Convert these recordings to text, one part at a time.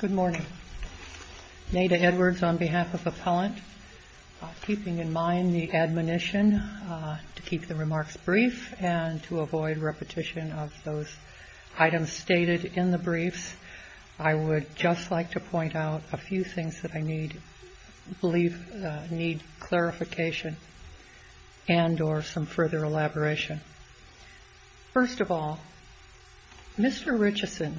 Good morning. Neda Edwards on behalf of Appellant. Keeping in mind the admonition to keep the remarks brief and to avoid repetition of those items stated in the briefs, I would just like to point out a few things that I believe need clarification and or some further elaboration. First of all, Mr. Richeson,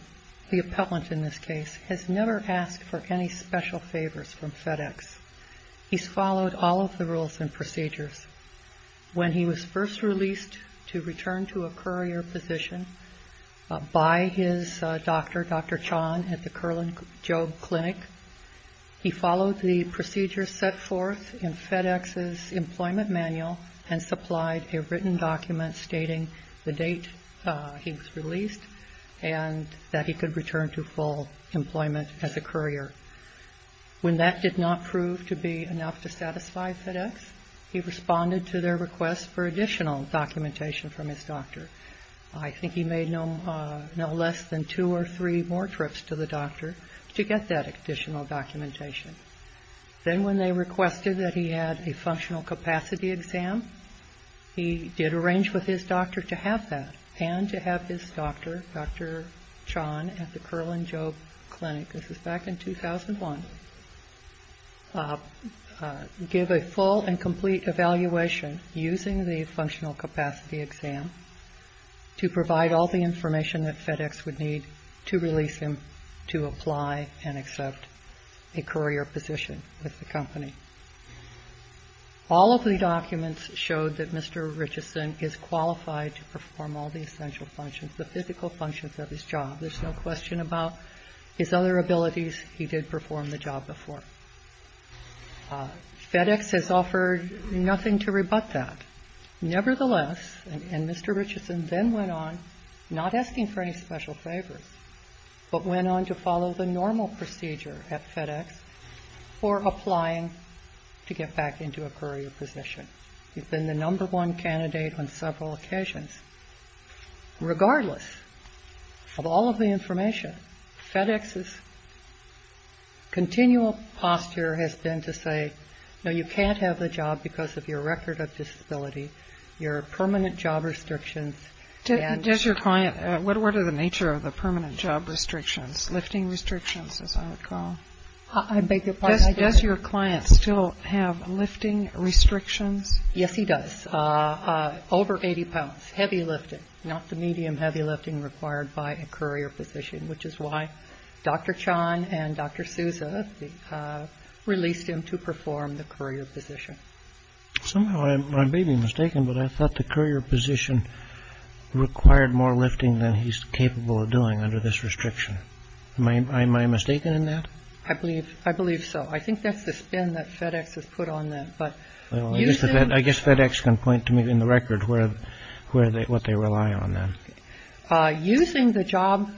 the appellant in this case, has never asked for any special favors from FedEx. He's followed all of the rules and procedures. When he was first released to return to a courier position by his doctor, Dr. Chan, at the Curlin-Job Clinic, he followed the procedures set forth in FedEx's employment manual and supplied a written document to FedEx. stating the date he was released and that he could return to full employment as a courier. When that did not prove to be enough to satisfy FedEx, he responded to their request for additional documentation from his doctor. I think he made no less than two or three more trips to the doctor to get that additional documentation. Then when they requested that he had a functional capacity exam, he did arrange with his doctor to have that and to have his doctor, Dr. Chan, at the Curlin-Job Clinic, this is back in 2001, give a full and complete evaluation using the functional capacity exam to provide all the information that FedEx would need to release him to apply and accept a courier position. All of the documents showed that Mr. Richardson is qualified to perform all the essential functions, the physical functions of his job. There's no question about his other abilities. He did perform the job before. FedEx has offered nothing to rebut that. Nevertheless, and Mr. Richardson then went on, not asking for any special favors, but went on to follow the normal procedure at FedEx. He's been the number one candidate on several occasions. Regardless of all of the information, FedEx's continual posture has been to say, no, you can't have the job because of your record of disability, your permanent job restrictions. Does your client, what are the nature of the permanent job restrictions, lifting restrictions, as I recall? I beg your pardon? Does your client still have lifting restrictions? Yes, he does. Over 80 pounds, heavy lifting, not the medium heavy lifting required by a courier position, which is why Dr. Chan and Dr. Sousa released him to perform the courier position. I may be mistaken, but I thought the courier position required more lifting than he's capable of doing under this restriction. Am I mistaken in that? I believe I believe so. I think that's the spin that FedEx has put on that. But I guess FedEx can point to me in the record where where they what they rely on. Using the job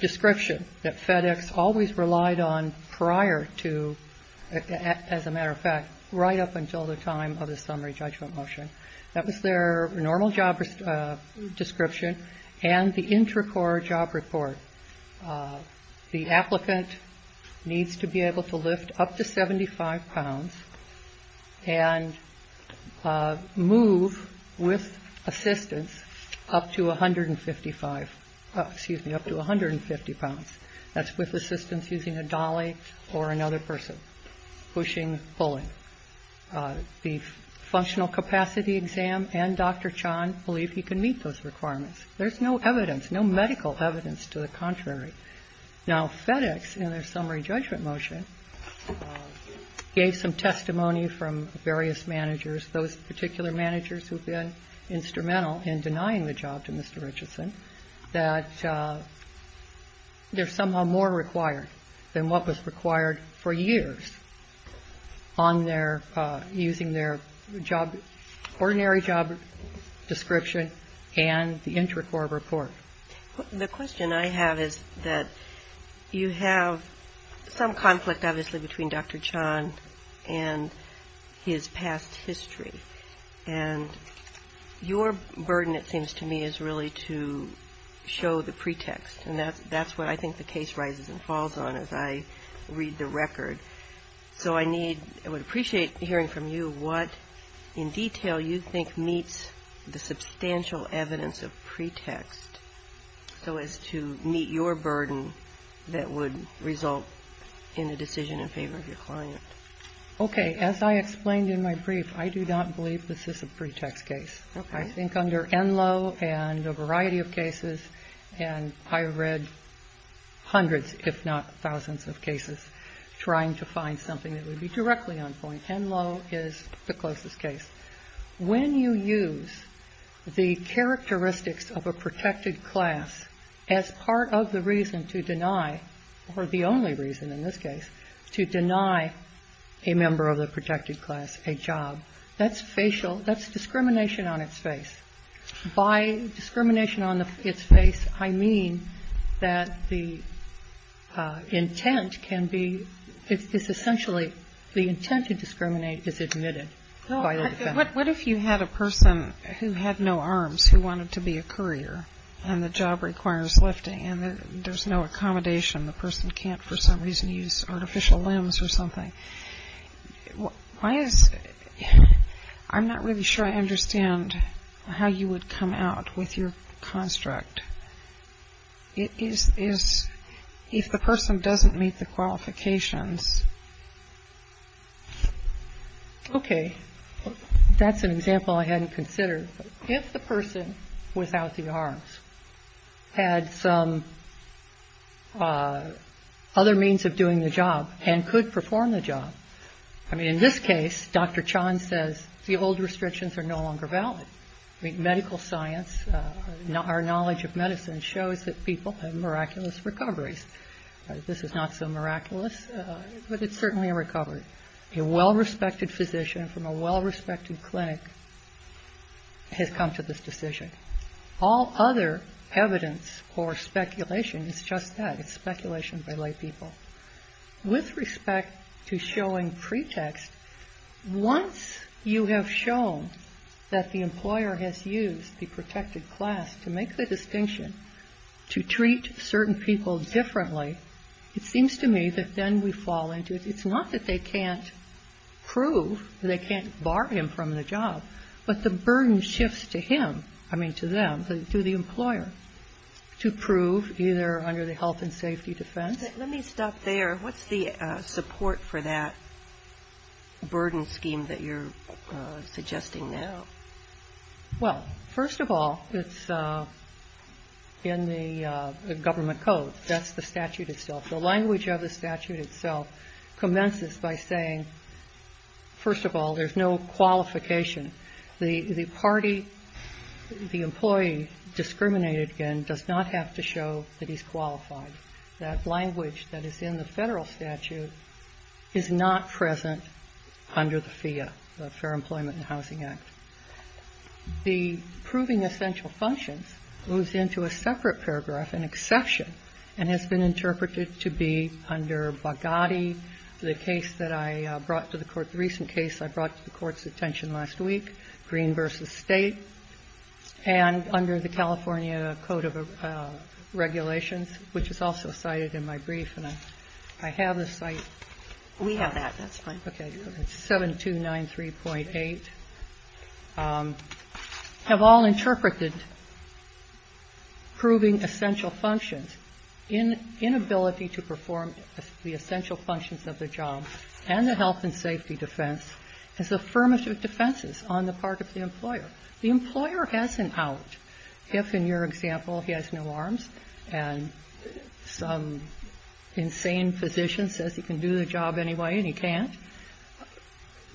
description that FedEx always relied on prior to, as a matter of fact, right up until the time of the summary judgment motion. That was their normal job description and the intracore job report. The applicant needs to be able to lift up to 75 pounds and move with assistance up to 155, excuse me, up to 150 pounds. That's with assistance using a dolly or another person pushing, pulling. The functional capacity exam and Dr. Chan believe he can meet those requirements. There's no evidence, no medical evidence to the contrary. Now, FedEx, in their summary judgment motion, gave some testimony from various managers. Those particular managers who've been instrumental in denying the job to Mr. Richardson, that there's somehow more required than what was required for years on their using their job, ordinary job description and the intracore report. The question I have is that you have some conflict, obviously, between Dr. Chan and his past history. And your burden, it seems to me, is really to show the pretext. And that's what I think the case rises and falls on as I read the record. So I need, I would appreciate hearing from you what in detail you think meets the substantial evidence of pretext so as to meet your burden that would result in a decision in favor of your client. Okay. As I explained in my brief, I do not believe this is a pretext case. Okay. I think under Enloe and a variety of cases, and I read hundreds, if not thousands of cases, trying to find something that would be directly on point. Enloe is the closest case. When you use the characteristics of a protected class as part of the reason to deny, or the only reason in this case, to deny a member of the protected class a job, that's facial, that's discrimination on its face. By discrimination on its face, I mean that the intent can be, it's essentially, the intent to discriminate is admitted by the defense. What if you had a person who had no arms who wanted to be a courier and the job requires lifting and there's no accommodation, the person can't for some reason use artificial limbs or something? Why is, I'm not really sure I understand how you would come out with your construct. If the person doesn't meet the qualifications. Okay. That's an example I hadn't considered. If the person without the arms had some other means of doing the job and could perform the job, I mean, in this case, Dr. Chan says the old restrictions are no longer valid. I mean, medical science, our knowledge of medicine shows that people have miraculous recoveries. This is not so miraculous, but it's certainly a recovery. A well-respected physician from a well-respected clinic has come to this decision. All other evidence or speculation is just that, it's speculation by laypeople. With respect to showing pretext, once you have shown that the employer has used the protected class to make the distinction, to treat certain people differently, it seems to me that then we fall into, it's not that they can't prove, they can't bar him from the job, but the burden shifts to him, I mean, to them, to the employer, to prove either under the health and safety defense. Let me stop there. What's the support for that burden scheme that you're suggesting now? Well, first of all, it's in the government code. That's the statute itself. The language of the statute itself commences by saying, first of all, there's no qualification. The party, the employee discriminated against does not have to show that he's qualified. That language that is in the Federal statute is not present under the FEA, the Fair Employment and Housing Act. The proving essential functions moves into a separate paragraph, an exception, and has been interpreted to be under Bogatti, the case that I brought to the Court, the recent case I brought to the Court's attention last week, Green v. State, and under the California Code of Regulations, which is also cited in my brief, and I have the site. We have that. That's fine. Okay. It's 7293.8. Have all interpreted proving essential functions in inability to perform the essential functions of the job and the health and safety defense as affirmative defenses on the part of the employer. The employer has an out. If, in your example, he has no arms and some insane physician says he can do the job anyway and he can't,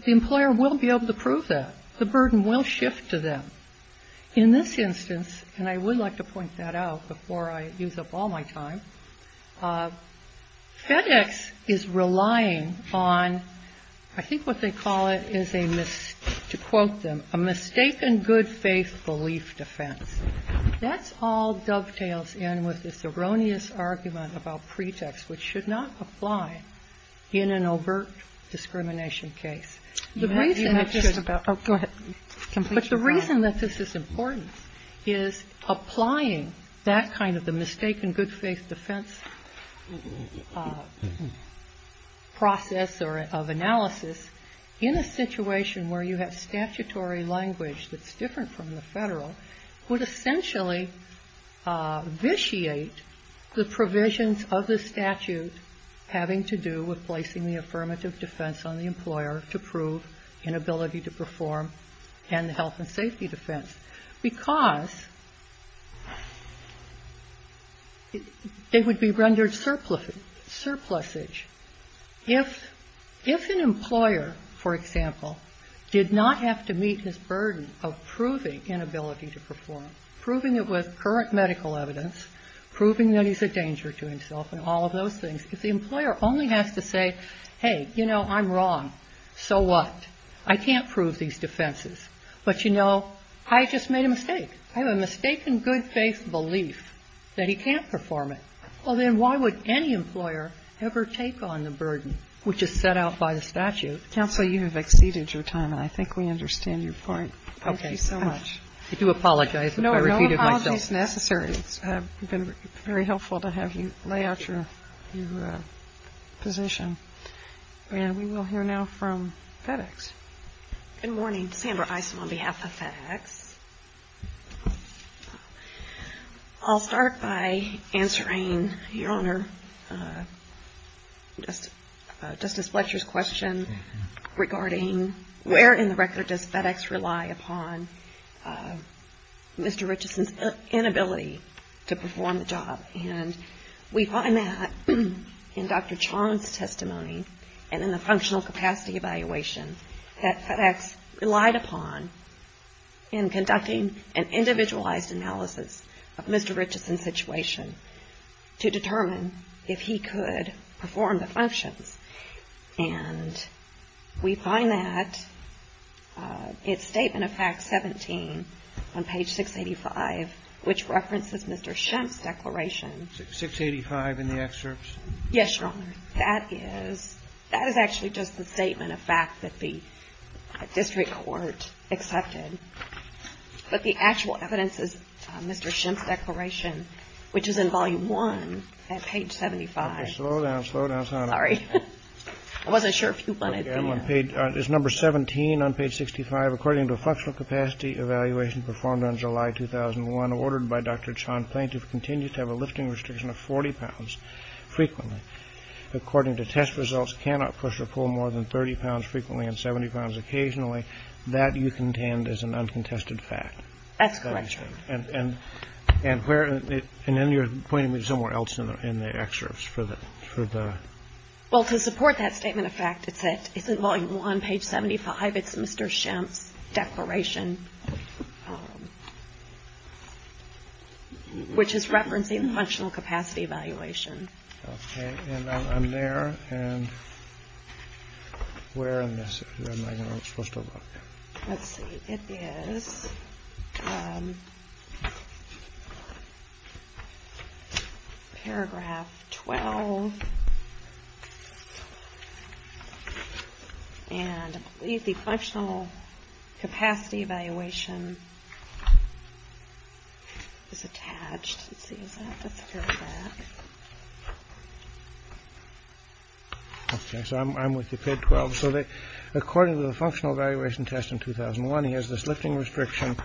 the employer will be able to prove that. The burden will shift to them. In this instance, and I would like to point that out before I use up all my time, FedEx is relying on, I think what they call it is a, to quote them, a mistaken good faith belief defense. That's all dovetails in with this erroneous argument about pretext, which should not apply in an overt discrimination case. The reason it should be. Oh, go ahead. But the reason that this is important is applying that kind of the mistaken good faith defense process of analysis in a situation where you have statutory language that's different from the federal would essentially vitiate the provisions of the statute having to do with placing the affirmative defense on the employer to prove inability to perform and the health and safety defense. Because they would be rendered surplusage. If an employer, for example, did not have to meet this burden of proving inability to perform, proving it with current medical evidence, proving that he's a danger to himself and all of those things, if the employer only has to say, hey, you know, I'm wrong, so what? I can't prove these defenses. But, you know, I just made a mistake. I have a mistaken good faith belief that he can't perform it. Well, then why would any employer ever take on the burden which is set out by the statute? Counsel, you have exceeded your time, and I think we understand your point. Okay. Thank you so much. I do apologize if I repeated myself. No, no apologies necessary. It's been very helpful to have you lay out your position. And we will hear now from FedEx. Good morning. Sandra Eisen on behalf of FedEx. I'll start by answering, Your Honor, Justice Fletcher's question regarding where in the record does FedEx rely upon Mr. Richardson's inability to perform the job. And we find that in Dr. Chong's testimony and in the functional capacity evaluation that FedEx relied upon in conducting an individualized analysis of Mr. Richardson's situation to determine if he could perform the functions. And we find that in Statement of Fact 17 on page 685, which references Mr. Shemp's declaration. 685 in the excerpts? Yes, Your Honor. That is actually just the Statement of Fact that the district court accepted. But the actual evidence is Mr. Shemp's declaration, which is in Volume 1 at page 75. Okay. Slow down. Slow down, Sandra. Sorry. I wasn't sure if you wanted this. Okay. It's number 17 on page 65. According to a functional capacity evaluation performed on July 2001 ordered by Dr. Chong the plaintiff continues to have a lifting restriction of 40 pounds frequently. According to test results, cannot push or pull more than 30 pounds frequently and 70 pounds occasionally. That you contend is an uncontested fact. That's correct, Your Honor. And then you're pointing me somewhere else in the excerpts for the ‑‑ Well, to support that Statement of Fact, it's in Volume 1, page 75. It's Mr. Shemp's declaration, which is referencing functional capacity evaluation. Okay. And I'm there, and where am I supposed to look? Let's see. It is paragraph 12. And the functional capacity evaluation is attached. Let's see. Is that this paragraph? Okay. So I'm with you. Page 12. So according to the functional evaluation test in 2001, he has this lifting restriction.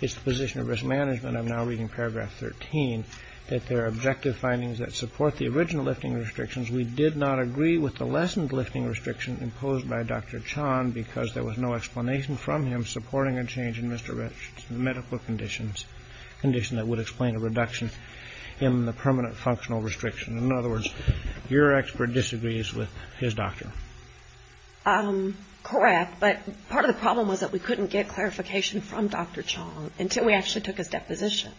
It's the position of risk management. I'm now reading paragraph 13, that there are objective findings that support the original lifting restrictions. We did not agree with the lessened lifting restriction imposed by Dr. Chong because there was no explanation from him supporting a change in Mr. Shemp's medical conditions, a condition that would explain a reduction in the permanent functional restriction. In other words, your expert disagrees with his doctor. Correct. But part of the problem was that we couldn't get clarification from Dr. Chong until we actually took his deposition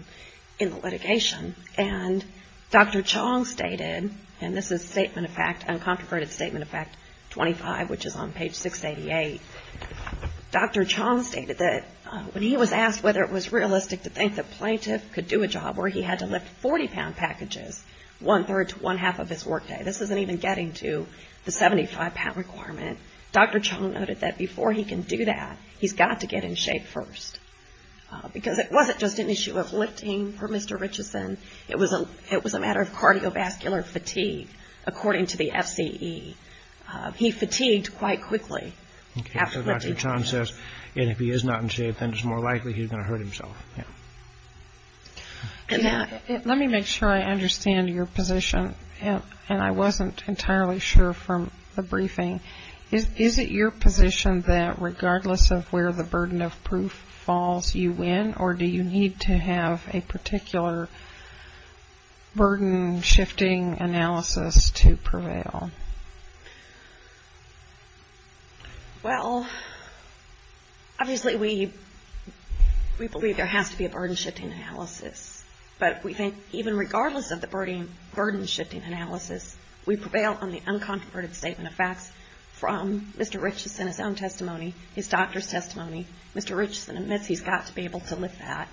in the litigation. And Dr. Chong stated, and this is Statement of Fact, uncomproverted Statement of Fact 25, which is on page 688. Dr. Chong stated that when he was asked whether it was realistic to think the plaintiff could do a job where he had to lift 40-pound packages one-third to one-half of his workday. This isn't even getting to the 75-pound requirement. Dr. Chong noted that before he can do that, he's got to get in shape first. Because it wasn't just an issue of lifting for Mr. Richardson. It was a matter of cardiovascular fatigue, according to the FCE. He fatigued quite quickly after lifting. And if he is not in shape, then it's more likely he's going to hurt himself. Let me make sure I understand your position. And I wasn't entirely sure from the briefing. Is it your position that regardless of where the burden of proof falls, you win? Or do you need to have a particular burden-shifting analysis to prevail? Well, obviously we believe there has to be a burden-shifting analysis. But we think even regardless of the burden-shifting analysis, we prevail on the uncontroverted statement of facts from Mr. Richardson's own testimony, his doctor's testimony. Mr. Richardson admits he's got to be able to lift that.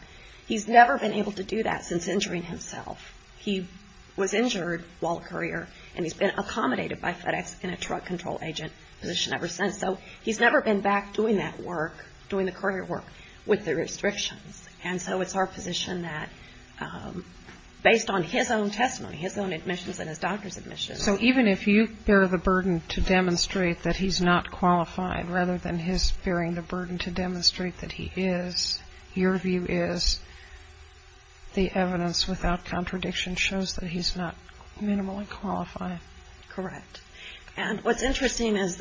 He's never been able to do that since injuring himself. He was injured while a courier, and he's been accommodated by FedEx in a drug control agent position ever since. So he's never been back doing that work, doing the courier work, with the restrictions. And so it's our position that based on his own testimony, his own admissions and his doctor's admissions. So even if you bear the burden to demonstrate that he's not qualified, rather than his bearing the burden to demonstrate that he is, your view is the evidence without contradiction shows that he's not minimally qualified. Correct. And what's interesting is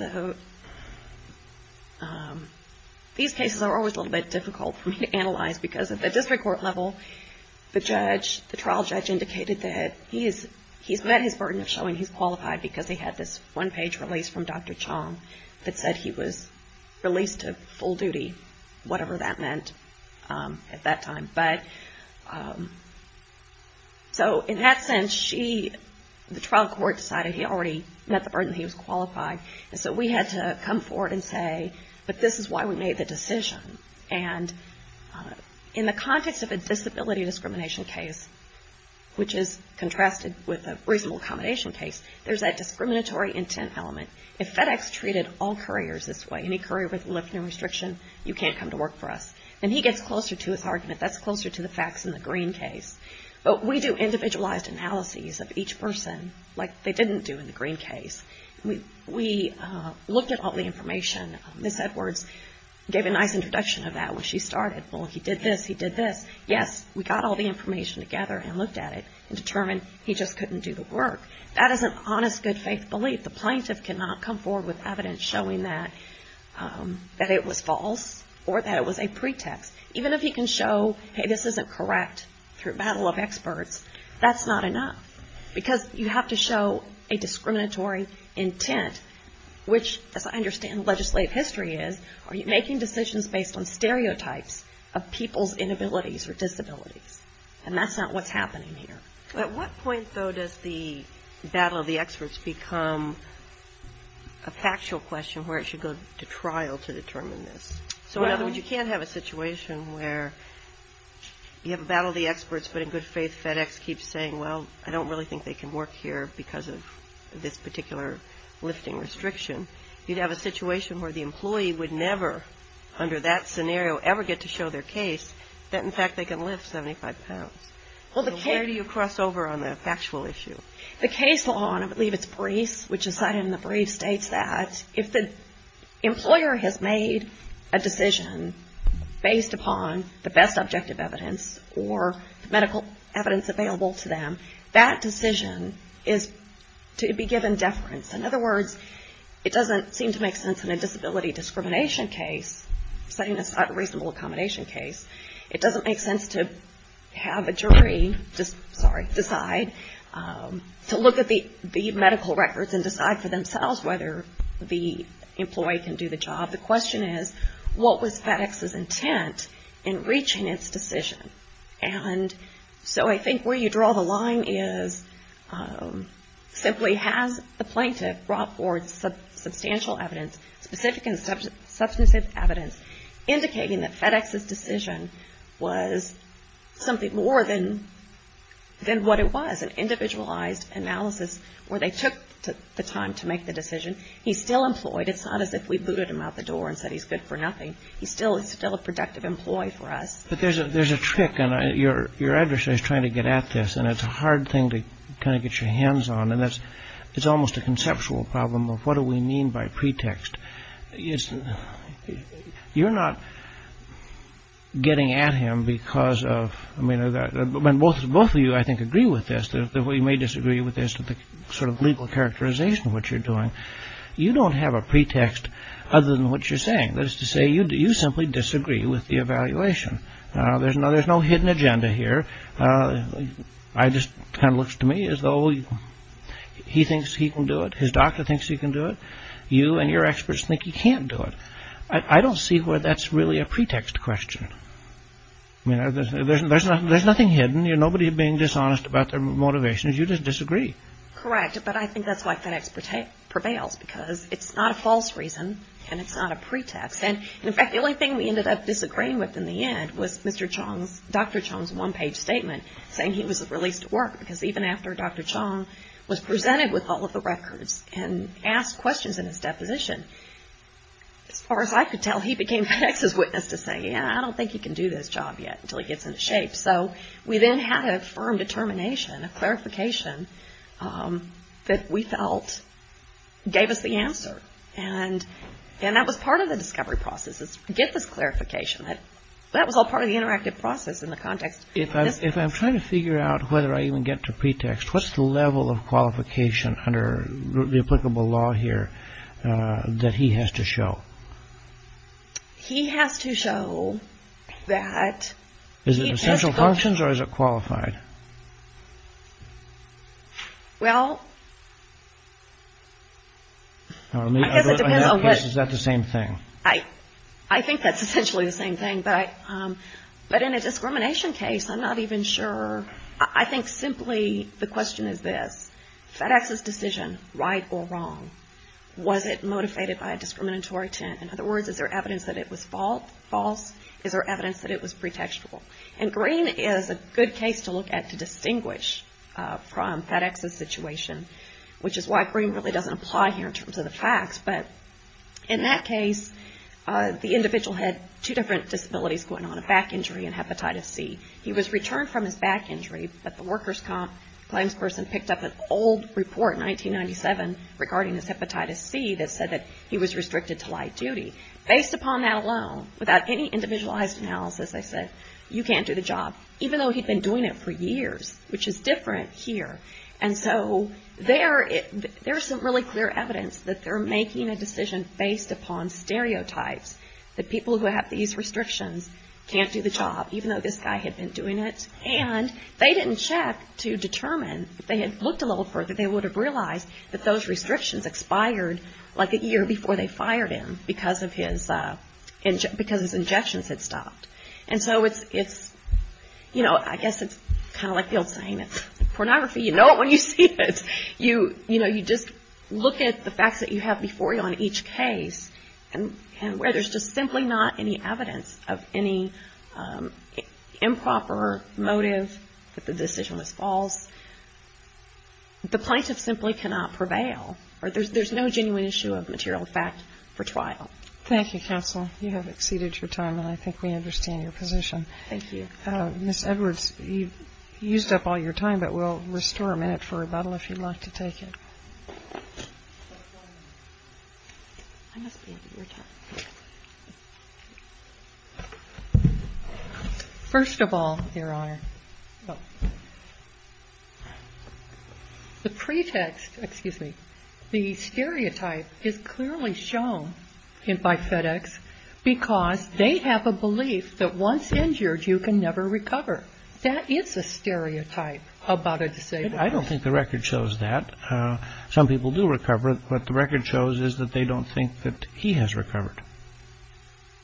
these cases are always a little bit difficult for me to analyze, because at the district court level, the trial judge indicated that he's met his burden of showing he's qualified because he had this one-page release from Dr. Chong that said he was released to full duty, whatever that meant at that time. But so in that sense, the trial court decided he already met the burden that he was qualified. And so we had to come forward and say, but this is why we made the decision. And in the context of a disability discrimination case, which is contrasted with a reasonable accommodation case, there's that discriminatory intent element. If FedEx treated all couriers this way, any courier with a lifting restriction, you can't come to work for us. And he gets closer to his argument. That's closer to the facts in the Green case. But we do individualized analyses of each person like they didn't do in the Green case. We looked at all the information. Ms. Edwards gave a nice introduction of that when she started. Well, he did this. He did this. Yes, we got all the information together and looked at it and determined he just couldn't do the work. That is an honest, good-faith belief. The plaintiff cannot come forward with evidence showing that it was false or that it was a pretext. Even if he can show, hey, this isn't correct, through a battle of experts, that's not enough. Because you have to show a discriminatory intent, which, as I understand legislative history is, are you making decisions based on stereotypes of people's inabilities or disabilities? And that's not what's happening here. At what point, though, does the battle of the experts become a factual question where it should go to trial to determine this? So, in other words, you can't have a situation where you have a battle of the experts, but in good faith FedEx keeps saying, well, I don't really think they can work here because of this particular lifting restriction. You'd have a situation where the employee would never, under that scenario, ever get to show their case that, in fact, they can lift 75 pounds. So where do you cross over on the factual issue? The case law, and I believe it's brief, which is cited in the brief, states that if the employer has made a decision based upon the best objective evidence or medical evidence available to them, that decision is to be given deference. In other words, it doesn't seem to make sense in a disability discrimination case, setting aside a reasonable accommodation case. It doesn't make sense to have a jury decide to look at the medical records and decide for themselves whether the employee can do the job. The question is, what was FedEx's intent in reaching its decision? And so I think where you draw the line is, simply has the plaintiff brought forth substantial evidence, specific and substantive evidence, indicating that FedEx's decision was something more than what it was, an individualized analysis where they took the time to make the decision. He's still employed. It's not as if we booted him out the door and said he's good for nothing. He's still a productive employee for us. But there's a trick, and your adversary's trying to get at this, and it's a hard thing to kind of get your hands on, and it's almost a conceptual problem of what do we mean by pretext. You're not getting at him because of, I mean, both of you, I think, agree with this. We may disagree with this sort of legal characterization of what you're doing. You don't have a pretext other than what you're saying. That is to say, you simply disagree with the evaluation. There's no hidden agenda here. It just kind of looks to me as though he thinks he can do it. His doctor thinks he can do it. You and your experts think he can't do it. I don't see where that's really a pretext question. I mean, there's nothing hidden. Nobody is being dishonest about their motivations. You just disagree. Correct, but I think that's why FedEx prevails, because it's not a false reason, and it's not a pretext, and, in fact, the only thing we ended up disagreeing with in the end was Dr. Chong's one-page statement saying he was released to work, because even after Dr. Chong was presented with all of the records and asked questions in his deposition, as far as I could tell, he became FedEx's witness to say, yeah, I don't think he can do this job yet until he gets into shape. So we then had a firm determination, a clarification that we felt gave us the answer, and that was part of the discovery process is to get this clarification. That was all part of the interactive process in the context. If I'm trying to figure out whether I even get to pretext, what's the level of qualification under the applicable law here that he has to show? He has to show that he has to go through. Is it essential functions, or is it qualified? Well, I guess it depends. Is that the same thing? I think that's essentially the same thing, but in a discrimination case, I'm not even sure. I think simply the question is this. FedEx's decision, right or wrong, was it motivated by a discriminatory intent? In other words, is there evidence that it was false? Is there evidence that it was pretextual? And Green is a good case to look at to distinguish from FedEx's situation, which is why Green really doesn't apply here in terms of the facts. But in that case, the individual had two different disabilities going on, a back injury and hepatitis C. He was returned from his back injury, but the workers' comp claims person picked up an old report in 1997 regarding his hepatitis C that said that he was restricted to light duty. Based upon that alone, without any individualized analysis, they said you can't do the job, even though he'd been doing it for years, which is different here. And so there is some really clear evidence that they're making a decision based upon stereotypes, that people who have these restrictions can't do the job, even though this guy had been doing it. And they didn't check to determine. If they had looked a little further, they would have realized that those restrictions expired like a year before they fired him because his injections had stopped. And so it's, you know, I guess it's kind of like the old saying, pornography, you know it when you see it. You know, you just look at the facts that you have before you on each case and where there's just simply not any evidence of any improper motive, that the decision was false. The plaintiff simply cannot prevail, or there's no genuine issue of material fact for trial. Thank you, counsel. You have exceeded your time, and I think we understand your position. Thank you. Ms. Edwards, you've used up all your time, but we'll restore a minute for rebuttal if you'd like to take it. First of all, Your Honor, the pretext, excuse me, the stereotype is clearly shown by FedEx because they have a belief that once injured, you can never recover. That is a stereotype about a disabled person. I don't think the record shows that. Some people do recover, but the record shows is that they don't think that he has recovered.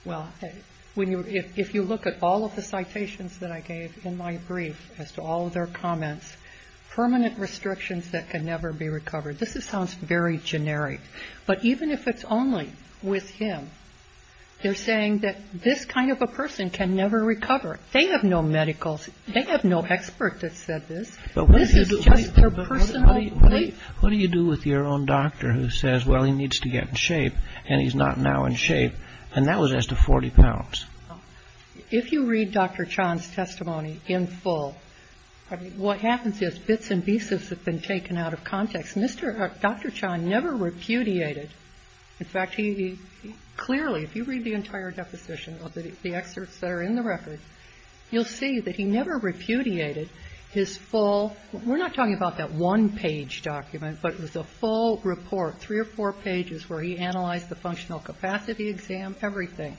Well, if you look at all of the citations that I gave in my brief as to all of their comments, permanent restrictions that can never be recovered, this sounds very generic. But even if it's only with him, they're saying that this kind of a person can never recover. They have no medicals. They have no expert that said this. This is just their personal belief. But what do you do with your own doctor who says, well, he needs to get in shape, and he's not now in shape, and that was as to 40 pounds. If you read Dr. Chan's testimony in full, what happens is bits and pieces have been taken out of context. Dr. Chan never repudiated. In fact, he clearly, if you read the entire deposition of the excerpts that are in the record, you'll see that he never repudiated his full. We're not talking about that one-page document, but it was a full report, three or four pages where he analyzed the functional capacity exam, everything.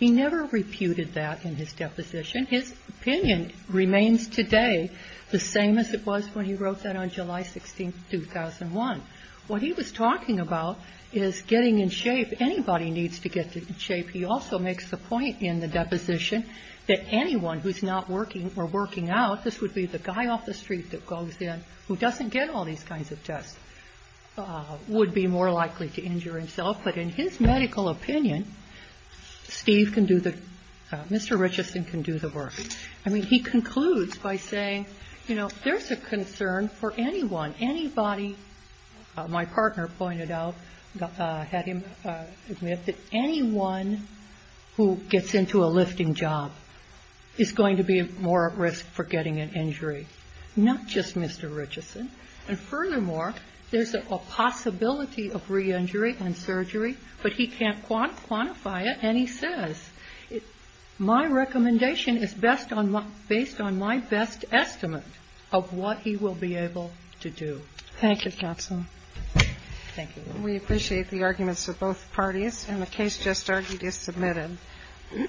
He never reputed that in his deposition. His opinion remains today the same as it was when he wrote that on July 16th, 2001. What he was talking about is getting in shape. Anybody needs to get in shape. He also makes the point in the deposition that anyone who's not working or working out, this would be the guy off the street that goes in who doesn't get all these kinds of tests, would be more likely to injure himself. But in his medical opinion, Steve can do the – Mr. Richardson can do the work. I mean, he concludes by saying, you know, there's a concern for anyone. Anybody, my partner pointed out, had him admit that anyone who gets into a lifting job is going to be more at risk for getting an injury. Not just Mr. Richardson. And furthermore, there's a possibility of re-injury and surgery, but he can't quantify it, and he says, My recommendation is based on my best estimate of what he will be able to do. Thank you, counsel. Thank you. We appreciate the arguments of both parties, and the case just argued is submitted.